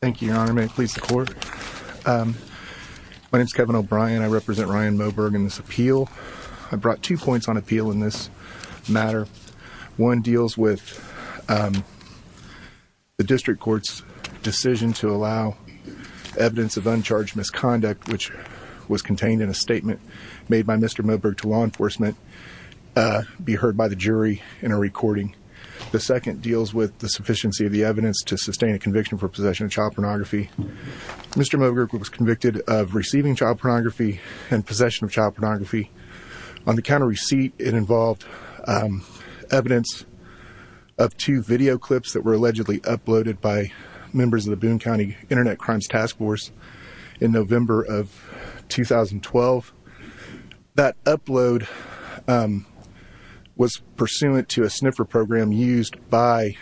Thank you your honor. May it please the court. My name is Kevin O'Brien. I represent Ryan Moberg in this appeal. I brought two points on appeal in this matter. One deals with the district court's decision to allow evidence of uncharged misconduct which was contained in a statement made by Mr. Moberg to law enforcement be heard by the jury in a recording. The second deals with the evidence to sustain a conviction for possession of child pornography. Mr. Moberg was convicted of receiving child pornography and possession of child pornography. On the counter receipt it involved evidence of two video clips that were allegedly uploaded by members of the Boone County Internet Crimes Task Force in November of 2012. That upload was pursuant to a sniffer program used by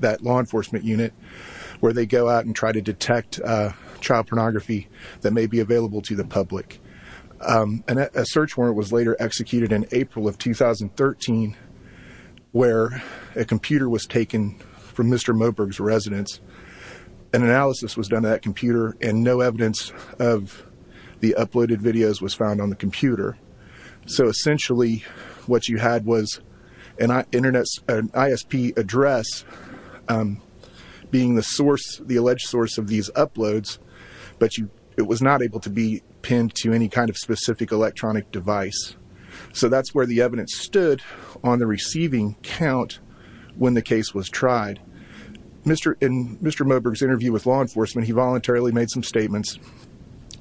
that law enforcement unit where they go out and try to detect child pornography that may be available to the public. A search warrant was later executed in April of 2013 where a computer was taken from Mr. Moberg's residence. An analysis was done to that computer and no evidence of the uploaded videos was found on the computer. So essentially what you had was an ISP address being the source, the alleged source of these uploads but it was not able to be pinned to any kind of specific electronic device. So that's where the evidence stood on the receiving count when the case was tried. In Mr. Moberg's interview with law enforcement he voluntarily made some statements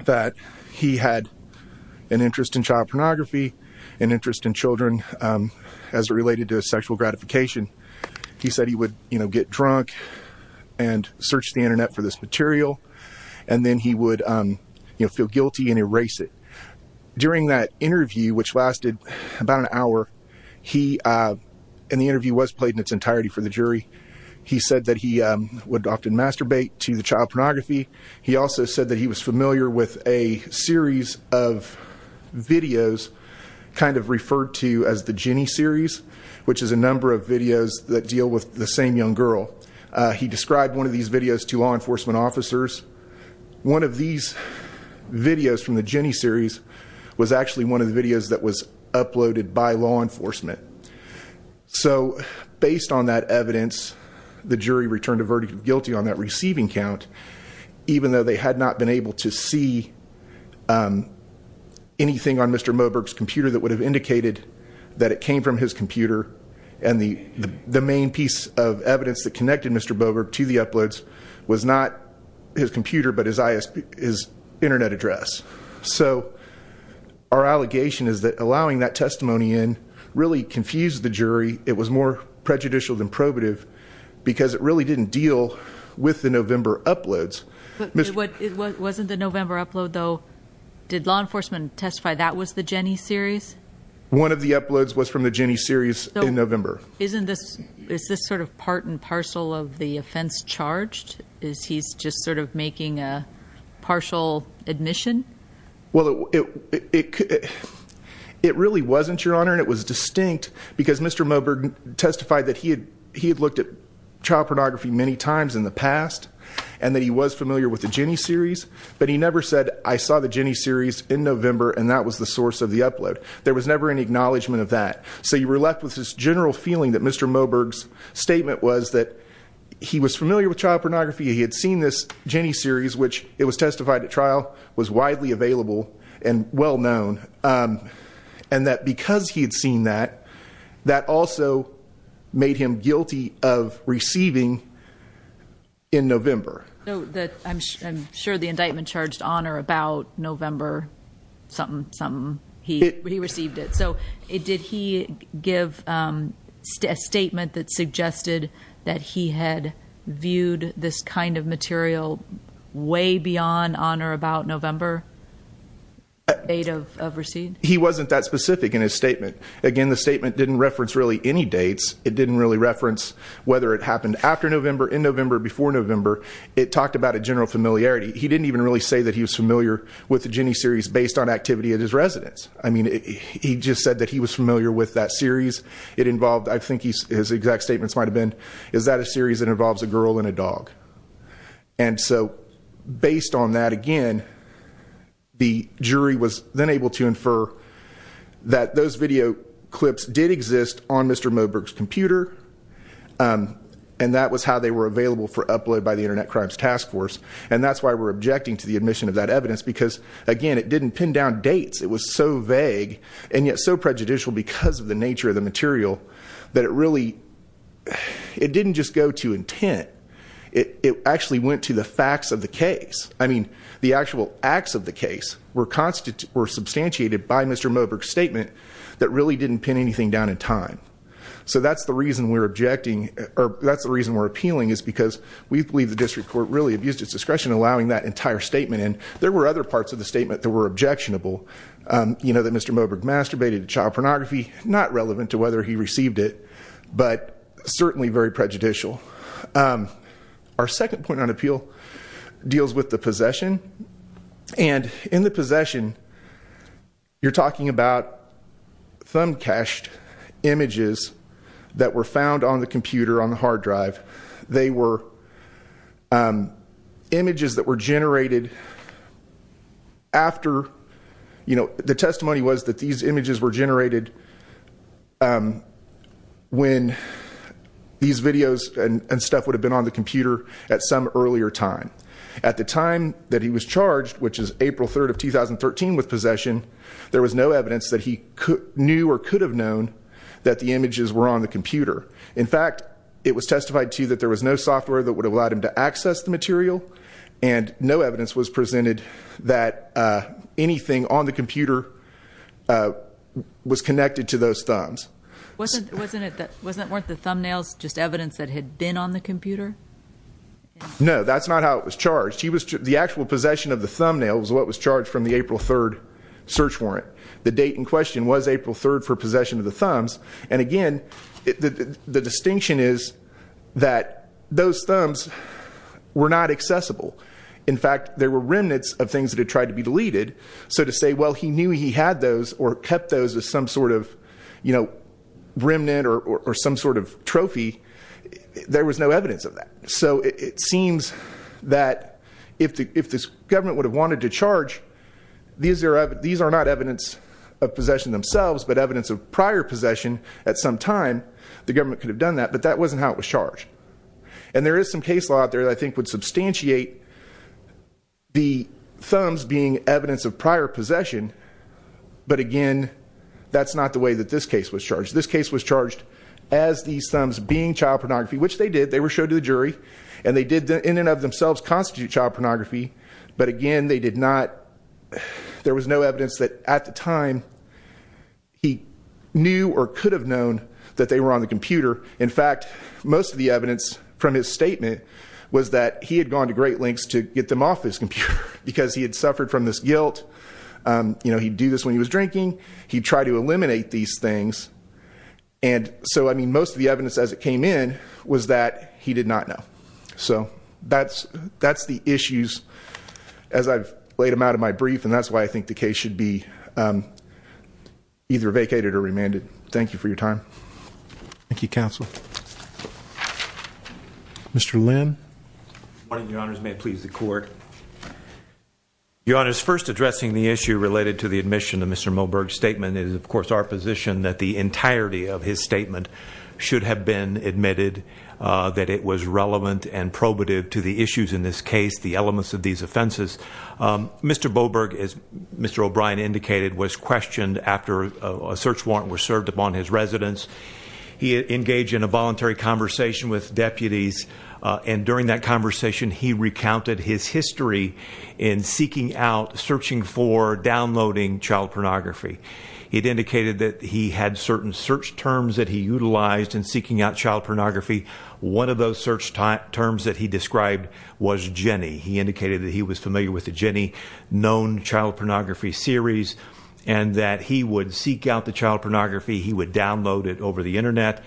that he had an interest in child pornography, an interest in sexual gratification. He said he would you know get drunk and search the internet for this material and then he would you know feel guilty and erase it. During that interview which lasted about an hour he, and the interview was played in its entirety for the jury, he said that he would often masturbate to the child pornography. He also said that he was familiar with a series of videos kind of referred to as the Jenny series which is a number of videos that deal with the same young girl. He described one of these videos to law enforcement officers. One of these videos from the Jenny series was actually one of the videos that was uploaded by law enforcement. So based on that evidence the jury returned a verdict of guilty on that receiving count even though they would have indicated that it came from his computer and the the main piece of evidence that connected Mr. Boberg to the uploads was not his computer but his internet address. So our allegation is that allowing that testimony in really confused the jury. It was more prejudicial than probative because it really didn't deal with the November uploads. Wasn't the November upload though, did law enforcement testify that was the Jenny series? One of the uploads was from the Jenny series in November. Isn't this, is this sort of part and parcel of the offense charged? Is he's just sort of making a partial admission? Well it it really wasn't your honor and it was distinct because Mr. Moberg testified that he had he had looked at child pornography many times in the past and that he was familiar with the Jenny series but he never said I saw the Jenny series in November and that was the source of the upload. There was never any acknowledgment of that so you were left with this general feeling that Mr. Moberg's statement was that he was familiar with child pornography he had seen this Jenny series which it was testified at trial was widely available and well known and that because he had seen that that also made him guilty of receiving in November. I'm sure the indictment charged honor about November something something he received it so it did he give a statement that suggested that he had viewed this kind of material way beyond honor about November date of receipt? He wasn't that specific in his statement again the statement didn't reference really any dates it didn't really reference whether it happened after November in November before November it talked about a general familiarity he didn't even really say that he was familiar with the Jenny series based on activity at his residence I mean he just said that he was familiar with that series it involved I think he's exact statements might have been is that a series that involves a girl and a dog and so based on that again the jury was then able to infer that those video clips did exist on Mr. Moberg's computer and that was how they were available for upload by the Internet Crimes Task Force and that's why we're objecting to the admission of that evidence because again it didn't pin down dates it was so vague and yet so prejudicial because of the nature of the material that it really it didn't just go to intent it actually went to the facts of the case I mean the actual acts of the case were constant were substantiated by Mr. Moberg statement that really didn't pin anything down in time so that's the reason we're objecting or that's the reason we're appealing is because we believe the district court really abused its discretion allowing that entire statement and there were other parts of the statement that were objectionable you know that Mr. Moberg masturbated to child pornography not relevant to whether he received it but certainly very prejudicial our second point on appeal deals with the possession and in possession you're talking about thumb cached images that were found on the computer on the hard drive they were images that were generated after you know the testimony was that these images were generated when these videos and stuff would have been on the computer at some earlier time at the time that he was charged which is April 3rd of 2013 with possession there was no evidence that he knew or could have known that the images were on the computer in fact it was testified to that there was no software that would have allowed him to access the material and no evidence was presented that anything on the computer was connected to those thumbs wasn't wasn't it that wasn't worth the thumbnails just evidence that had been on the computer no that's not how it was charged he was the actual possession of the thumbnails what was charged from the April 3rd search warrant the date in question was April 3rd for possession of the thumbs and again the distinction is that those thumbs were not accessible in fact there were remnants of things to try to be deleted so to say well he knew he had those or kept those as some sort of you know remnant or or some sort of if this government would have wanted to charge these are these are not evidence of possession themselves but evidence of prior possession at some time the government could have done that but that wasn't how it was charged and there is some case law out there I think would substantiate the thumbs being evidence of prior possession but again that's not the way that this case was charged this case was charged as these thumbs being child pornography which they did they were showed to the jury and they did the in and of themselves constitute child pornography but again they did not there was no evidence that at the time he knew or could have known that they were on the computer in fact most of the evidence from his statement was that he had gone to great lengths to get them off his computer because he had suffered from this guilt you know he'd do this when he was drinking he tried to eliminate these things and so I mean most of the evidence as it came in was that he did not know so that's that's the issues as I've laid them out of my brief and that's why I think the case should be either vacated or remanded thank you for your time thank you counsel mr. Lynn may please the court your honor is first addressing the issue related to the admission of mr. Moberg statement is of course our position that the entirety of his statement should have been admitted that it was relevant and probative to the issues in this case the elements of these offenses mr. Boberg is mr. O'Brien indicated was questioned after a search warrant was served upon his residence he engaged in a voluntary conversation with deputies and during that conversation he recounted his history in seeking out certain search terms that he utilized in seeking out child pornography one of those search time terms that he described was Jenny he indicated that he was familiar with the Jenny known child pornography series and that he would seek out the child pornography he would download it over the internet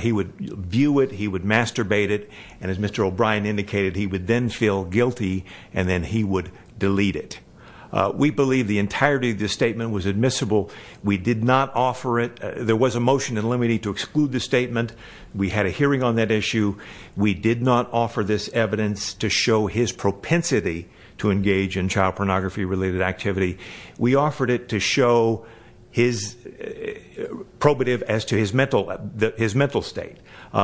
he would view it he would masturbate it and as mr. O'Brien indicated he would then feel guilty and then he would delete it we believe the entirety of this statement was admissible we did not offer it there was a motion and let me need to exclude the statement we had a hearing on that issue we did not offer this evidence to show his propensity to engage in child pornography related activity we offered it to show his probative as to his mental that his mental state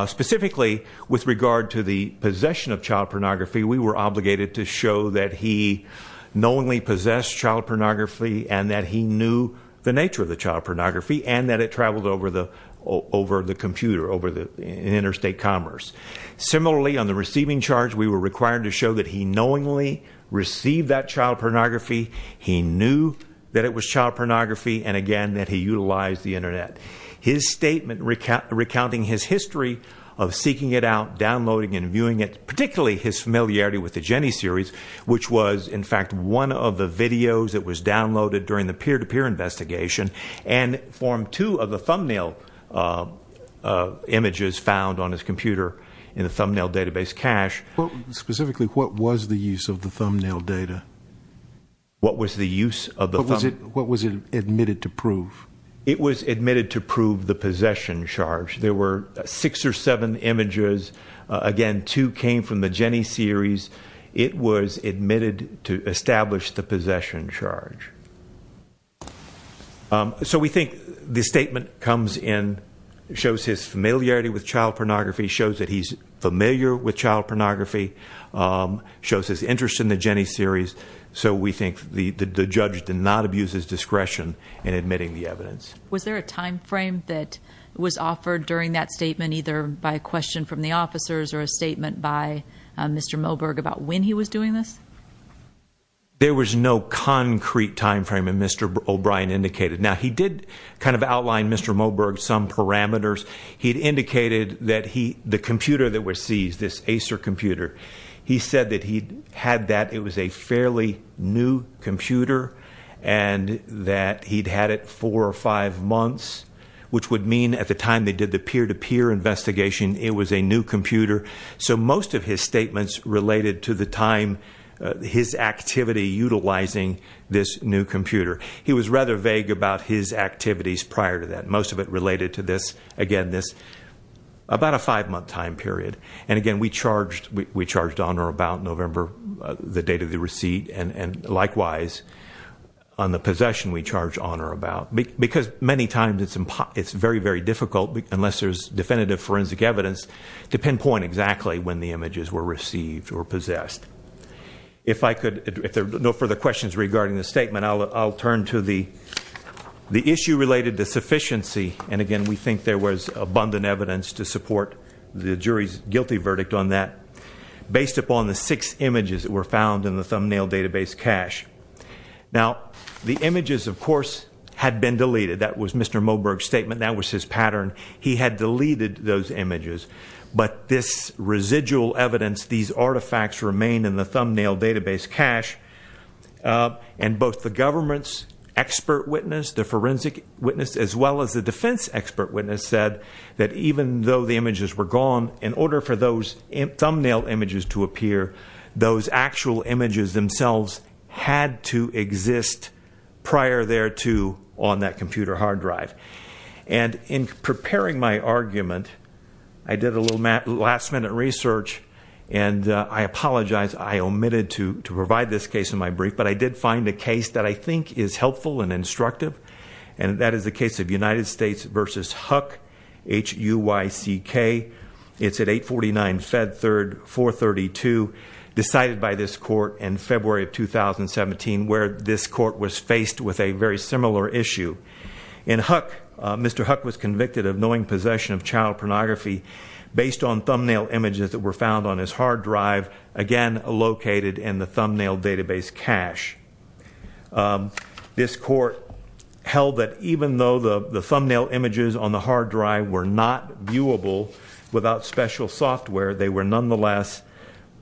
specifically with regard to the possession of child pornography we were obligated to show that he knowingly possessed child pornography and that he knew the nature of the child pornography and that it traveled over the over the computer over the interstate commerce similarly on the receiving charge we were required to show that he knowingly received that child pornography he knew that it was child pornography and again that he utilized the Internet his statement recount recounting his history of seeking it out downloading and viewing it particularly his familiarity with the Jenny series which was in fact one of the videos that was downloaded during the peer-to-peer investigation and form two of the thumbnail images found on his computer in the thumbnail database cache well specifically what was the use of the thumbnail data what was the use of the was it what was it admitted to prove it was admitted to prove the possession charge there were six or seven images again two came from the Jenny series it was admitted to establish the possession charge so we think the statement comes in shows his familiarity with child pornography shows that he's familiar with child pornography shows his interest in the Jenny series so we think the the judge did not abuse his discretion in admitting the evidence was there a time frame that was offered during that statement either by a question from the officers or a statement by mr. Moberg about when he was doing this there was no concrete time frame and mr. O'Brien indicated now he did kind of outline mr. Moberg some parameters he'd indicated that he the computer that were seized this Acer computer he said that he had that it was a fairly new computer and that he'd had it four or five months which would mean at the time they did the peer-to-peer investigation it was a new computer so most of his statements related to the time his activity utilizing this new computer he was rather vague about his activities prior to that most of it related to this again this about a five month time period and again we charged we charged on or about November the date of the receipt and and likewise on the possession we charge on or about me because many times it's in pot it's very very difficult unless there's definitive forensic evidence to pinpoint exactly when the images were received or possessed if I could if there's no further questions regarding the statement I'll turn to the the issue related to sufficiency and again we think there was abundant evidence to support the jury's guilty verdict on that based upon the six images that were found in the thumbnail database cache now the images of course had been his pattern he had deleted those images but this residual evidence these artifacts remain in the thumbnail database cache and both the government's expert witness the forensic witness as well as the defense expert witness said that even though the images were gone in order for those in thumbnail images to appear those actual images themselves had to exist prior thereto on that in preparing my argument I did a little map last-minute research and I apologize I omitted to to provide this case in my brief but I did find a case that I think is helpful and instructive and that is the case of United States versus Huck h-u-y-c-k it's at 849 Fed third 432 decided by this court in February of 2017 where this court was faced with a very similar issue in Huck mr. Huck was convicted of knowing possession of child pornography based on thumbnail images that were found on his hard drive again located in the thumbnail database cache this court held that even though the the thumbnail images on the hard drive were not viewable without special software they were nonetheless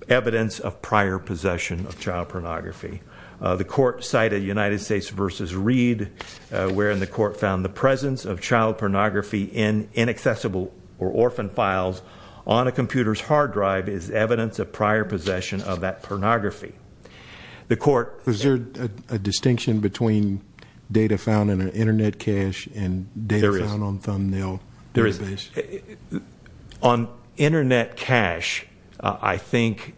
evidence of prior possession of child pornography the court cited United States versus read wherein the court found the presence of child pornography in inaccessible or orphan files on a computer's hard drive is evidence of prior possession of that pornography the court is there a distinction between data found in an internet cache and there is on thumbnail there is on internet cache I think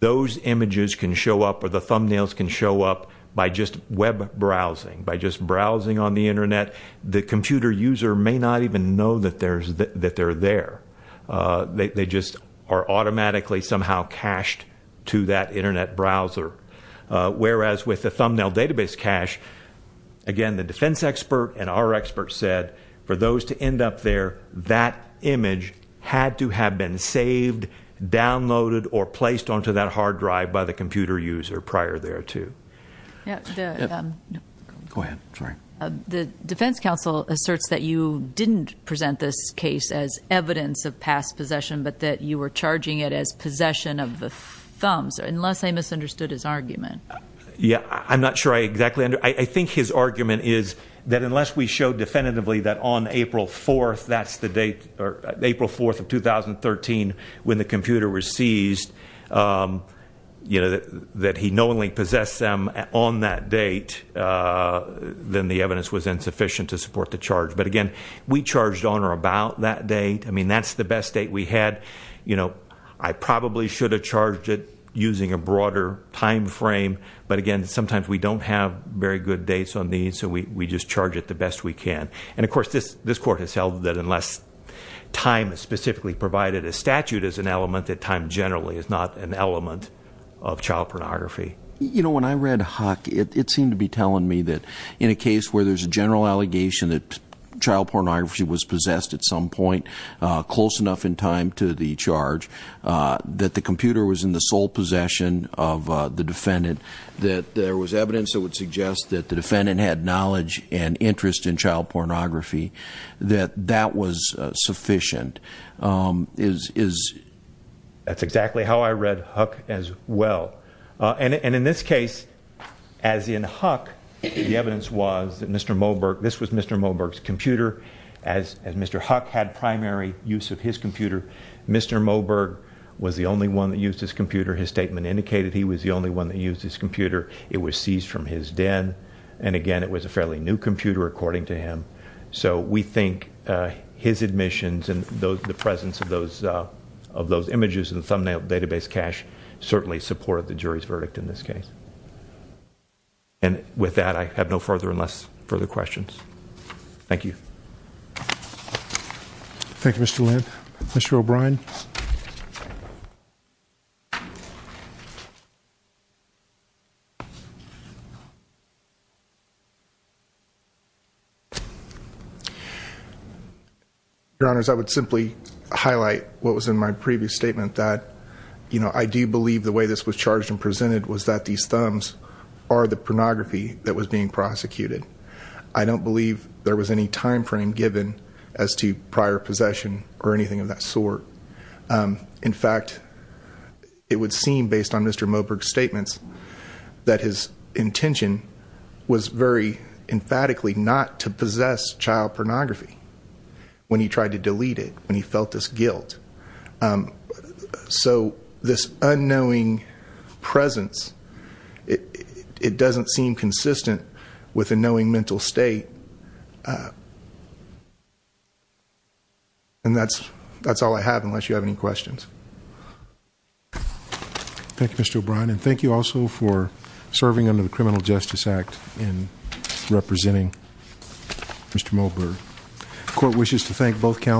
those images can show up or the thumbnails can show up by just web browsing by just browsing on the internet the computer user may not even know that there's that they're there they just are automatically somehow cached to that internet browser whereas with the thumbnail database cache again the defense expert and our experts said for those to end up there that image had to have been saved downloaded or placed onto that hard drive by the computer user prior there to the defense counsel asserts that you didn't present this case as evidence of past possession but that you were charging it as possession of the thumbs unless I misunderstood his argument yeah I'm not sure I exactly under I think his argument is that unless we show definitively that on April 4th that's the date or April 4th of 2013 when the you know that he knowingly possessed them on that date then the evidence was insufficient to support the charge but again we charged on or about that date I mean that's the best date we had you know I probably should have charged it using a broader time frame but again sometimes we don't have very good dates on these so we just charge it the best we can and of course this this court has held that unless time is specifically provided a statute as an element that generally is not an element of child pornography you know when I read Huck it seemed to be telling me that in a case where there's a general allegation that child pornography was possessed at some point close enough in time to the charge that the computer was in the sole possession of the defendant that there was evidence that would suggest that the defendant had knowledge and interest in is is that's exactly how I read Huck as well and in this case as in Huck the evidence was that mr. Moberg this was mr. Moberg's computer as mr. Huck had primary use of his computer mr. Moberg was the only one that used his computer his statement indicated he was the only one that used his computer it was seized from his den and again it was a fairly new computer according to him so we think his admissions and those the presence of those of those images in the thumbnail database cache certainly supported the jury's verdict in this case and with that I have no further unless further questions thank you thank you mr. Lynn mr. O'Brien your honors I would simply highlight what was in my previous statement that you know I do believe the way this was charged and presented was that these thumbs are the pornography that was being prosecuted I don't believe there was any time frame given as to prior possession or anything of that sort in fact it would seem based on mr. Moberg statements that his intention was very emphatically not to possess child pornography when he tried to delete it when he felt this guilt so this unknowing presence it doesn't seem consistent with a knowing mental state and that's that's all I have unless you have any questions thank you mr. O'Brien and thank you also for serving under the Criminal Justice Act in representing mr. Moberg court wishes to thank both counsel